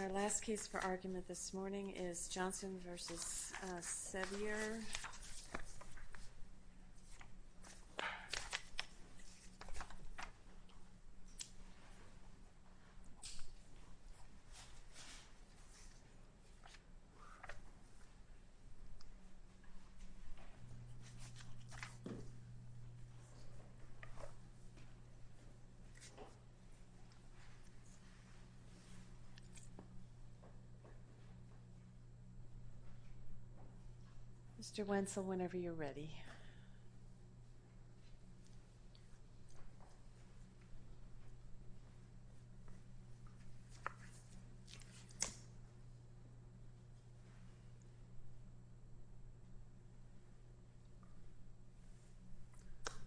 Our last case for argument this morning is Johnson v. Sevier. Mr. Wenzel, whenever you're ready.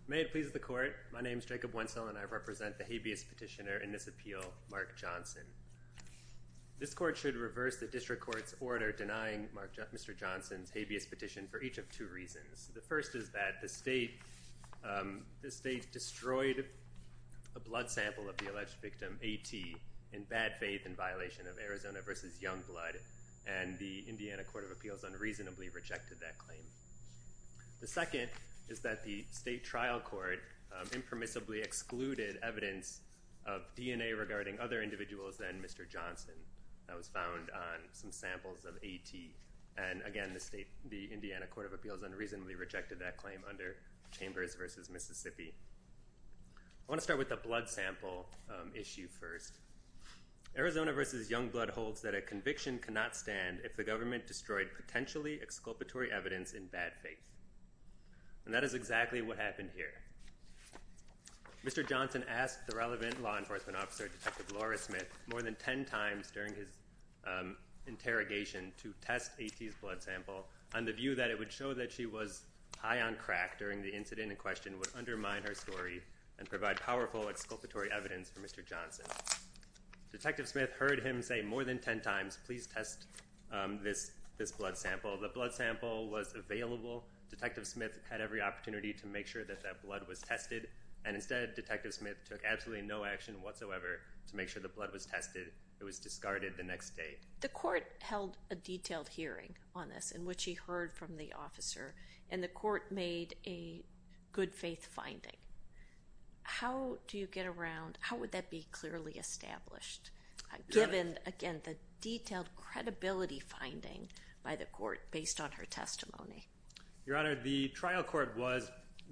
May it please the court, my name is Jacob Wenzel and I represent the habeas petitioner in this appeal, Mark Johnson. This court should reverse the district court's order denying Mr. Johnson's habeas petition for each of two reasons. The first is that the state destroyed a blood sample of the alleged victim, A.T., in bad faith and violation of Arizona v. Youngblood and the Indiana Court of Appeals unreasonably rejected that claim. The second is that the state trial court impermissibly excluded evidence of DNA regarding other individuals than Mr. Johnson that was found on some samples of A.T. and again the state, the Indiana Court of Appeals unreasonably rejected that claim under Chambers v. Mississippi. I want to start with the blood sample issue first. Arizona v. Youngblood holds that a conviction cannot stand if the government destroyed potentially exculpatory evidence in bad faith and that is exactly what happened here. Mr. Johnson asked the relevant law enforcement officer, Detective Laura Smith, more than 10 times during his interrogation to test A.T.'s blood sample on the view that it would show that she was high on crack during the incident in question would undermine her story and provide powerful exculpatory evidence for Mr. Johnson. Detective Smith heard him say more than 10 times, please test this blood sample. The blood sample was available. Detective Smith had every opportunity to make sure that that blood was tested and instead Detective Smith took absolutely no action whatsoever to make sure the blood was tested. It was discarded the next day. The court held a detailed hearing on this in which he heard from the officer and the court made a good faith finding. How do you get around, how would that be clearly established given again the detailed credibility finding by the court based on her testimony? Your Honor, the trial court was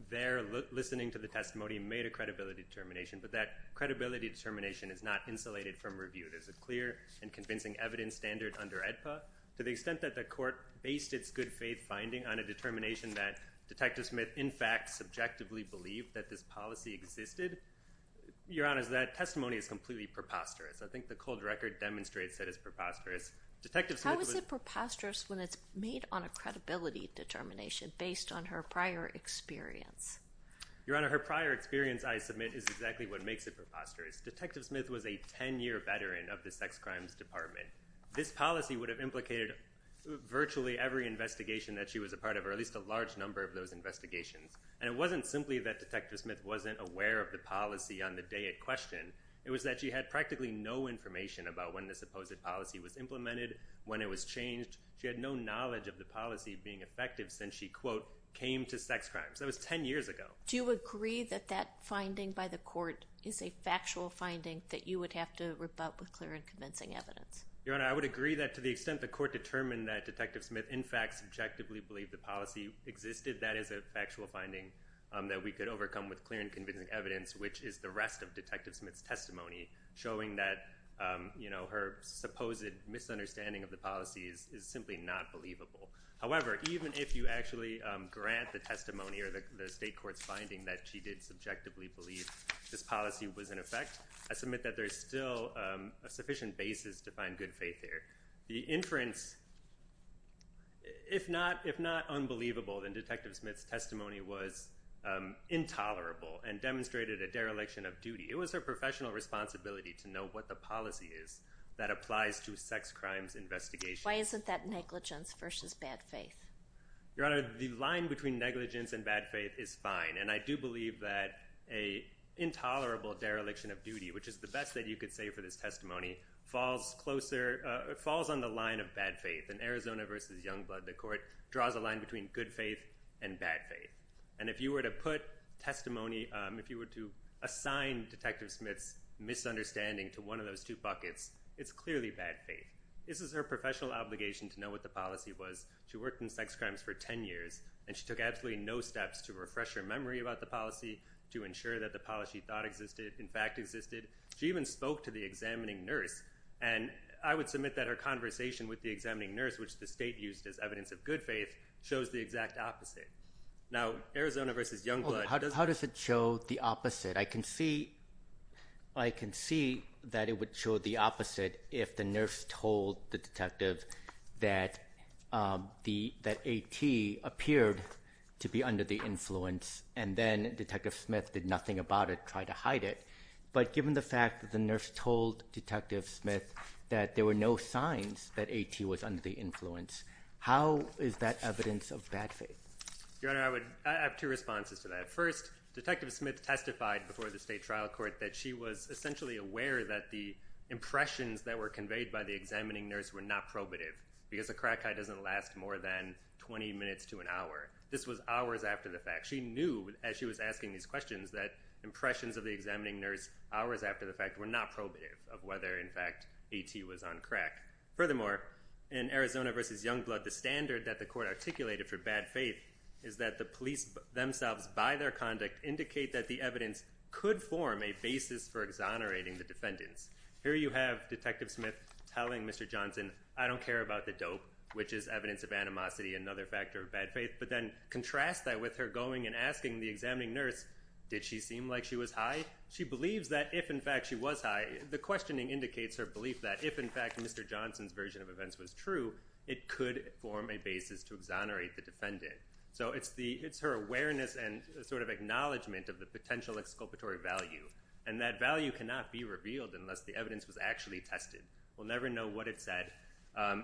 there listening to the testimony and made a credibility determination but that credibility determination is not insulated from review. There's a clear and convincing evidence standard under AEDPA to the extent that the court based its good faith finding on a determination that Detective Smith in fact subjectively believed that this policy existed. Your Honor, that testimony is completely preposterous. I think the cold record demonstrates that it's preposterous. How is it preposterous when it's made on a credibility determination based on her prior experience? Your Honor, her prior experience I submit is exactly what makes it preposterous. Detective Smith was a 10-year veteran of the Sex Crimes Department. This policy would have implicated virtually every investigation that she was a part of or at least a large number of those investigations and it wasn't simply that Detective Smith wasn't aware of the policy on the day at question. It was that she had practically no information about when the supposed policy was implemented, when it was changed. She had no knowledge of the policy being effective since she, quote, came to sex crimes. That was 10 years ago. Do you agree that that finding by the court is a factual finding that you would have to rebut with clear and convincing evidence? Your Honor, I would agree that to the extent the court determined that Detective Smith in fact subjectively believed the policy existed, that is a factual finding that we could overcome with clear and convincing evidence, which is the rest of Detective Smith's testimony showing that, you know, her supposed misunderstanding of the policy is simply not believable. However, even if you actually grant the testimony or the state court's finding that she did subjectively believe this policy was in effect, I submit that there's still a sufficient basis to find good faith here. The inference, if not unbelievable, then Detective Smith's testimony was intolerable and demonstrated a dereliction of duty. It was her professional responsibility to know what the policy is that applies to sex crimes investigation. Why isn't that negligence versus bad faith? Your Honor, the line between negligence and bad faith is fine, and I do believe that a intolerable dereliction of duty, which is the best that you could say for this testimony, falls closer, falls on the line of bad faith. In Arizona versus Youngblood, the court draws a line between good faith and bad faith. And if you were to put testimony, if you were to assign Detective Smith's misunderstanding to one of those two buckets, it's clearly bad faith. This is her professional obligation to know what the policy was. She worked in sex crimes for 10 years, and she took absolutely no steps to refresh her memory about the policy, to ensure that the policy thought existed, in fact existed. She even spoke to the examining nurse, and I would submit that her conversation with the examining nurse, which the state used as evidence of good faith, shows the exact opposite. Now, Arizona versus Youngblood— How does it show the opposite? I can see that it would show the opposite if the nurse told the detective that AT appeared to be under the influence, and then Detective Smith did nothing about it, tried to hide it. But given the fact that the nurse told Detective Smith that there were no signs that AT was under the influence, how is that evidence of bad faith? Your Honor, I would—I have two responses to that. First, Detective Smith testified before the state trial court that she was essentially aware that the impressions that were conveyed by the examining nurse were not probative because a crackhead doesn't last more than 20 minutes to an hour. This was hours after the fact. She knew, as she was asking these questions, that impressions of the examining nurse hours after the fact were not probative of whether, in fact, AT was on crack. Furthermore, in Arizona versus Youngblood, the standard that the court articulated for bad faith is that the police themselves, by their conduct, indicate that the evidence could form a basis for exonerating the defendants. Here you have Detective Smith telling Mr. Johnson, I don't care about the dope, which is evidence of animosity, another factor of bad faith, but then contrast that with her going and asking the examining nurse, did she seem like she was high? She believes that if, in fact, she was high, the questioning indicates her belief that if, in fact, Mr. Johnson's version of events was true, it could form a basis to exonerate the defendant. So it's her awareness and sort of acknowledgment of the potential exculpatory value, and that value cannot be revealed unless the evidence was actually tested. We'll never know what it said.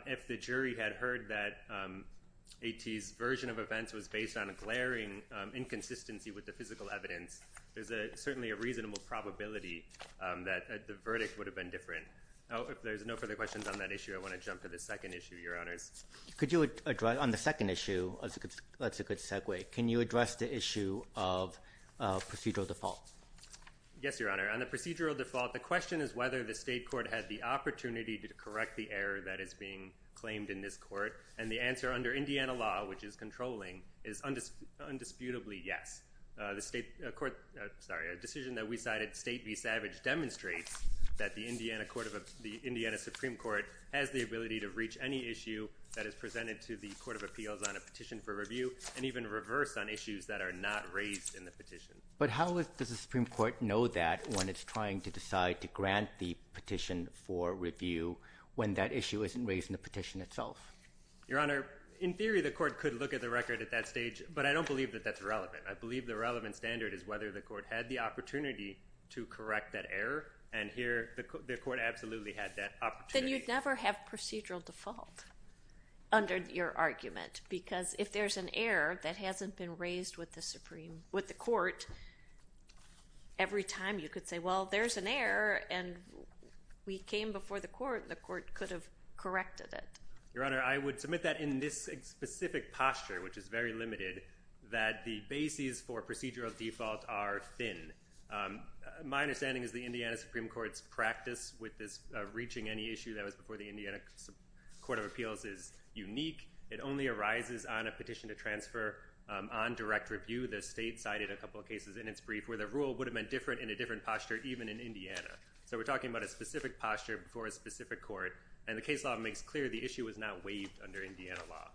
If the jury had heard that AT's version of events was based on a glaring inconsistency with the physical evidence, there's certainly a reasonable probability that the verdict would have been different. Oh, if there's no further questions on that issue, I want to jump to the second issue, Your Honors. Could you address, on the second issue, that's a good segue. Can you address the issue of procedural default? Yes, Your Honor. On the procedural default, the question is whether the state court had the opportunity to correct the error that is being claimed in this court. And the answer, under Indiana law, which is controlling, is undisputably yes. A decision that we cited, State v. Savage, demonstrates that the Indiana Supreme Court has the ability to reach any issue that is presented to the Court of Appeals on a petition for review, and even reverse on issues that are not raised in the petition. But how does the Supreme Court know that when it's trying to decide to grant the petition for review when that issue isn't raised in the petition itself? Your Honor, in theory, the court could look at the record at that stage, but I don't believe that that's relevant. I believe the relevant standard is whether the court had the opportunity to correct that error, and here, the court absolutely had that opportunity. Then you'd never have procedural default under your argument, because if there's an error that hasn't been raised with the Supreme, with the court, every time you could say, well, there's an error, and we came before the court, the court could have corrected it. Your Honor, I would submit that in this specific posture, which is very limited, that the bases for procedural default are thin. My understanding is the Indiana Supreme Court's practice with this reaching any issue that was before the Indiana Court of Appeals is unique. It only arises on a petition to transfer on direct review. The State cited a couple of cases in its brief where the rule would have been different in a different posture, even in Indiana, so we're talking about a specific posture before a specific court, and the case law makes clear the issue was not waived under Indiana law.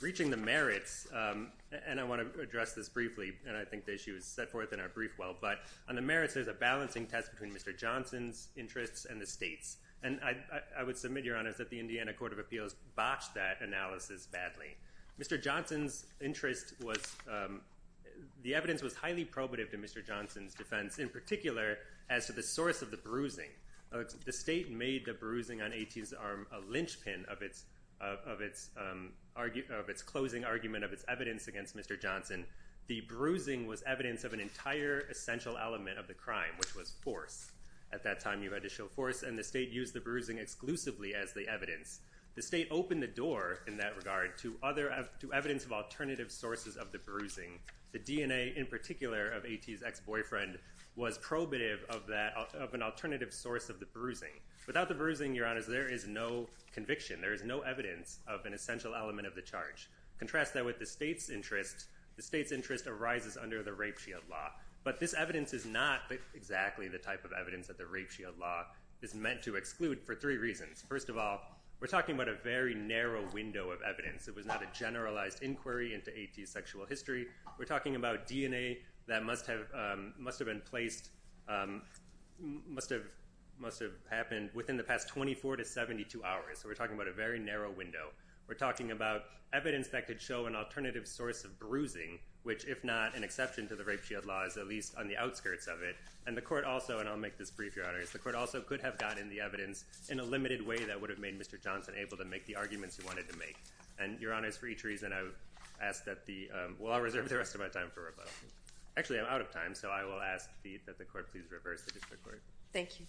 Reaching the merits, and I want to address this briefly, and I think the issue is set forth in our brief well, but on the merits, there's a balancing test between Mr. Johnson's interests and the State's, and I would submit, Your Honor, that the Indiana Court of Appeals botched that analysis badly. Mr. Johnson's interest was, the evidence was highly probative to Mr. Johnson's defense in particular as to the source of the bruising. The State made the bruising on A.T.'s arm a linchpin of its closing argument of its evidence against Mr. Johnson. The bruising was evidence of an entire essential element of the crime, which was force. At that time, you had to show force, and the State used the bruising exclusively as the The State opened the door in that regard to evidence of alternative sources of the bruising. The DNA in particular of A.T.'s ex-boyfriend was probative of an alternative source of the bruising. Without the bruising, Your Honor, there is no conviction. There is no evidence of an essential element of the charge. Contrast that with the State's interest. The State's interest arises under the rape shield law, but this evidence is not exactly the type of evidence that the rape shield law is meant to exclude for three reasons. First of all, we're talking about a very narrow window of evidence. It was not a generalized inquiry into A.T.'s sexual history. We're talking about DNA that must have been placed, must have happened within the past 24 to 72 hours. So we're talking about a very narrow window. We're talking about evidence that could show an alternative source of bruising, which, if not an exception to the rape shield law, is at least on the outskirts of it. And the court also, and I'll make this brief, Your Honor, is the court also could have gotten the evidence in a limited way that would have made Mr. Johnson able to make the arguments he wanted to make. And, Your Honor, it's for each reason I've asked that the—well, I'll reserve the rest of my time for rebuttal. Actually, I'm out of time, so I will ask that the court please reverse the district court. Thank you.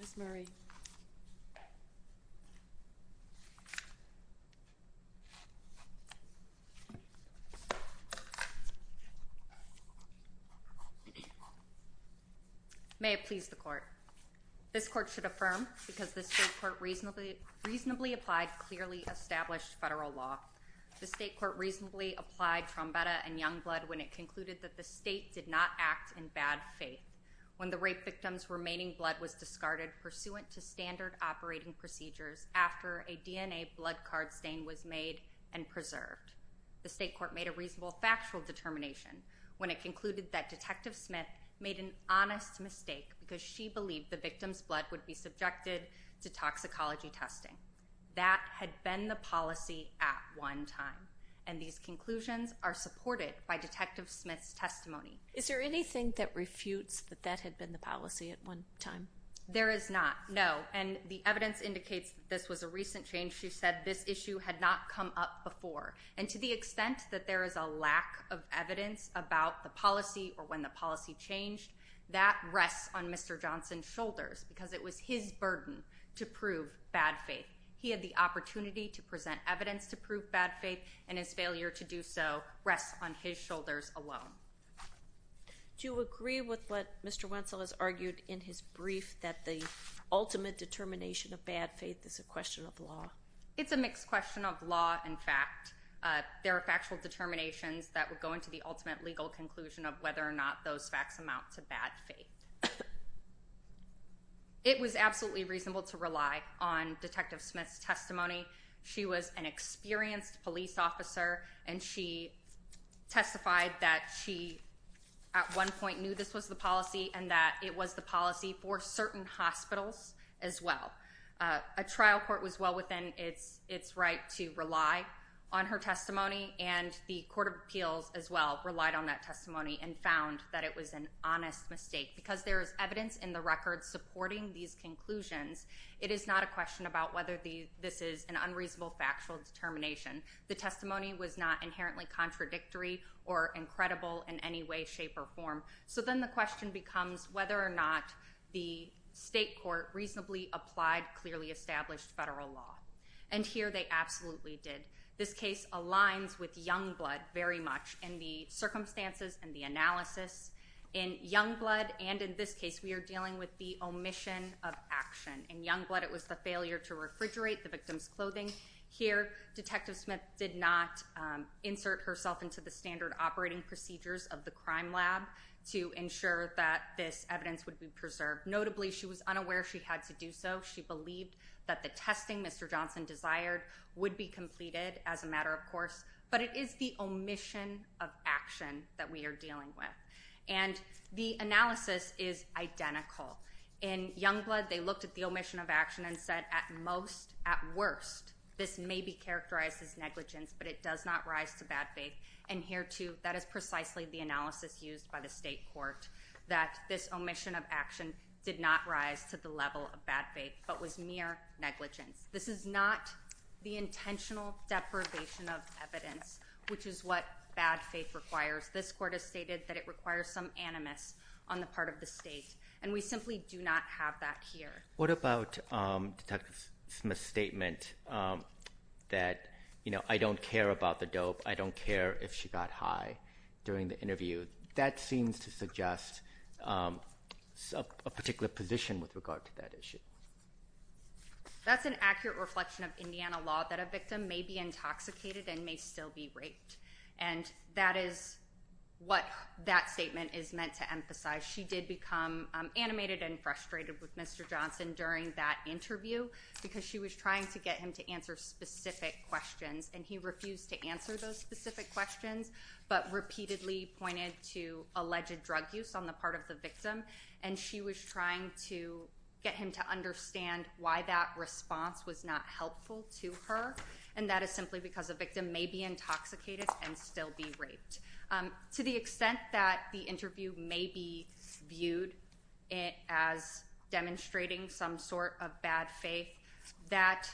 Ms. Murray. May it please the court. This court should affirm, because this state court reasonably applied clearly established federal law, the state court reasonably applied Trombetta and Youngblood when it concluded that the state did not act in bad faith. When the rape victim's remaining blood was discarded pursuant to standard operating procedures after a DNA blood card stain was made and preserved, the state court made a reasonable factual determination when it concluded that Detective Smith made an honest mistake because she believed the victim's blood would be subjected to toxicology testing. That had been the policy at one time, and these conclusions are supported by Detective Smith's testimony. Is there anything that refutes that that had been the policy at one time? There is not, no, and the evidence indicates that this was a recent change. She said this issue had not come up before, and to the extent that there is a lack of evidence about the policy or when the policy changed, that rests on Mr. Johnson's shoulders because it was his burden to prove bad faith. He had the opportunity to present evidence to prove bad faith, and his failure to do so rests on his shoulders alone. Do you agree with what Mr. Wentzel has argued in his brief that the ultimate determination of bad faith is a question of law? It's a mixed question of law and fact. There are factual determinations that would go into the ultimate legal conclusion of whether or not those facts amount to bad faith. It was absolutely reasonable to rely on Detective Smith's testimony. She was an experienced police officer, and she testified that she at one point knew this was the policy and that it was the policy for certain hospitals as well. A trial court was well within its right to rely on her testimony, and the Court of Appeals as well relied on that testimony and found that it was an honest mistake. Because there is evidence in the record supporting these conclusions, it is not a question about whether this is an unreasonable factual determination. The testimony was not inherently contradictory or incredible in any way, shape, or form. So then the question becomes whether or not the state court reasonably applied clearly established federal law, and here they absolutely did. This case aligns with Youngblood very much in the circumstances and the analysis. In Youngblood and in this case, we are dealing with the omission of action. In Youngblood, it was the failure to refrigerate the victim's clothing. Here Detective Smith did not insert herself into the standard operating procedures of the crime lab to ensure that this evidence would be preserved. Notably, she was unaware she had to do so. She believed that the testing Mr. Johnson desired would be completed as a matter of course, but it is the omission of action that we are dealing with. And the analysis is identical. In Youngblood, they looked at the omission of action and said at most, at worst, this may be characterized as negligence, but it does not rise to bad faith. And here too, that is precisely the analysis used by the state court, that this omission of action did not rise to the level of bad faith, but was mere negligence. This is not the intentional deprivation of evidence, which is what bad faith requires. This court has stated that it requires some animus on the part of the state, and we simply do not have that here. What about Detective Smith's statement that, you know, I don't care about the dope, I don't care if she got high during the interview. That seems to suggest a particular position with regard to that issue. That's an accurate reflection of Indiana law, that a victim may be intoxicated and may still be raped. And that is what that statement is meant to emphasize. She did become animated and frustrated with Mr. Johnson during that interview because she was trying to get him to answer specific questions, and he refused to answer those specific questions, but repeatedly pointed to alleged drug use on the part of the victim. And she was trying to get him to understand why that response was not helpful to her. And that is simply because a victim may be intoxicated and still be raped. To the extent that the interview may be viewed as demonstrating some sort of bad faith, that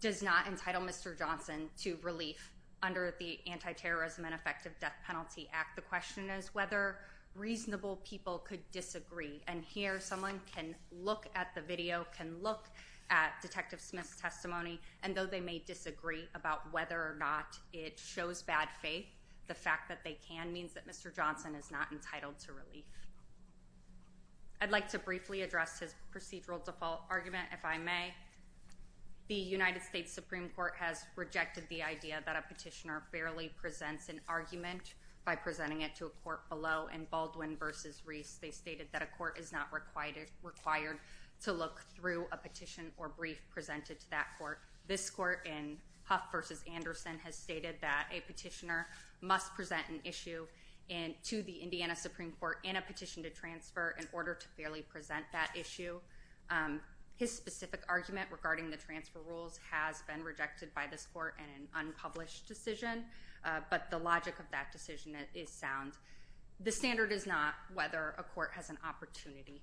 does not entitle Mr. Johnson to relief under the Anti-Terrorism and Effective Death Penalty Act. The question is whether reasonable people could disagree, and here someone can look at the video, can look at Detective Smith's testimony, and though they may disagree about whether or not it shows bad faith, the fact that they can means that Mr. Johnson is not entitled to relief. I'd like to briefly address his procedural default argument, if I may. The United States Supreme Court has rejected the idea that a petitioner barely presents an argument by presenting it to a court below. In Baldwin v. Reese, they stated that a court is not required to look through a petition or brief presented to that court. This court in Huff v. Anderson has stated that a petitioner must present an issue to the Indiana Supreme Court in a petition to transfer in order to fairly present that issue. His specific argument regarding the transfer rules has been rejected by this court in an unpublished decision, but the logic of that decision is sound. The standard is not whether a court has an opportunity.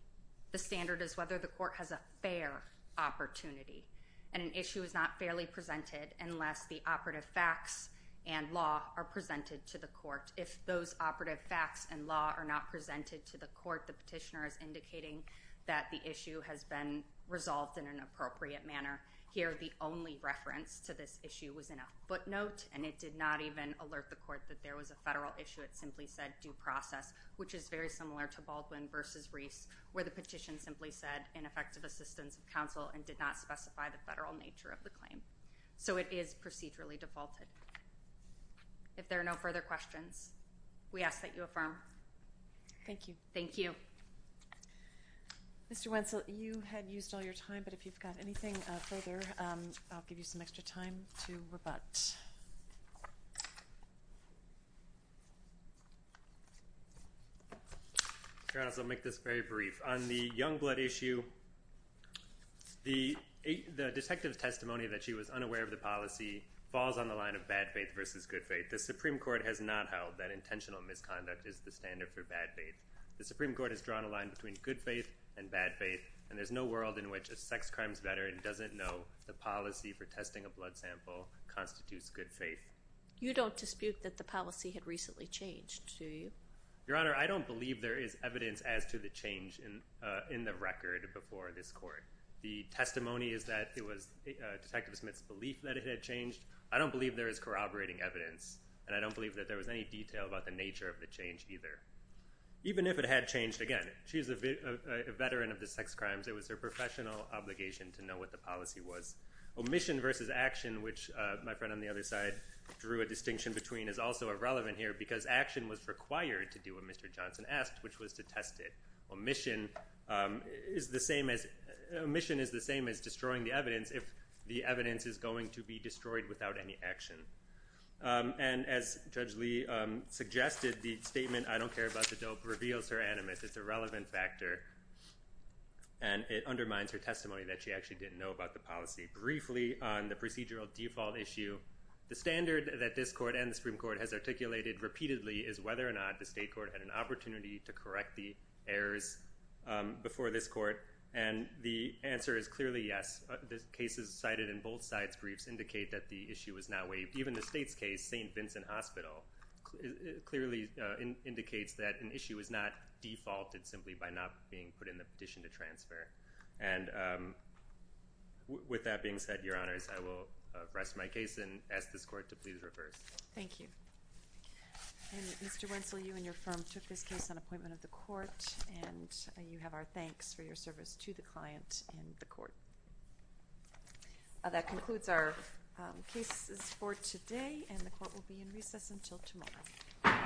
The standard is whether the court has a fair opportunity, and an issue is not fairly presented unless the operative facts and law are presented to the court. If those operative facts and law are not presented to the court, the petitioner is indicating that the issue has been resolved in an appropriate manner. Here, the only reference to this issue was in a footnote, and it did not even alert the court that there was a federal issue. It simply said due process, which is very similar to Baldwin v. Reese, where the petition simply said ineffective assistance of counsel and did not specify the federal nature of the claim. So, it is procedurally defaulted. If there are no further questions, we ask that you affirm. Thank you. Thank you. Mr. Wentzel, you had used all your time, but if you've got anything further, I'll give you some extra time to rebut. Your Honor, I'll make this very brief. On the Youngblood issue, the detective's testimony that she was unaware of the policy falls on the line of bad faith versus good faith. The Supreme Court has not held that intentional misconduct is the standard for bad faith. The Supreme Court has drawn a line between good faith and bad faith, and there's no world in which a sex crimes veteran doesn't know the policy for testing a blood sample constitutes good faith. You don't dispute that the policy had recently changed, do you? Your Honor, I don't believe there is evidence as to the change in the record before this court. The testimony is that it was Detective Smith's belief that it had changed. I don't believe there is corroborating evidence, and I don't believe that there was any detail about the nature of the change either. Even if it had changed, again, she's a veteran of the sex crimes. It was her professional obligation to know what the policy was. Omission versus action, which my friend on the other side drew a distinction between, is also irrelevant here because action was required to do what Mr. Johnson asked, which was to test it. Omission is the same as destroying the evidence if the evidence is going to be destroyed without any action. And as Judge Lee suggested, the statement, I don't care about the dope, reveals her animus. It's a relevant factor, and it undermines her testimony that she actually didn't know about the policy. Briefly, on the procedural default issue, the standard that this court and the Supreme Court has articulated repeatedly is whether or not the state court had an opportunity to correct the errors before this court, and the answer is clearly yes. The cases cited in both sides' briefs indicate that the issue is not waived. Even the state's case, St. Vincent Hospital, clearly indicates that an issue is not defaulted simply by not being put in the petition to transfer. And with that being said, Your Honors, I will rest my case and ask this court to please reverse. Thank you. And Mr. Wentzel, you and your firm took this case on appointment of the court, and you have our thanks for your service to the client and the court. That concludes our cases for today, and the court will be in recess until tomorrow.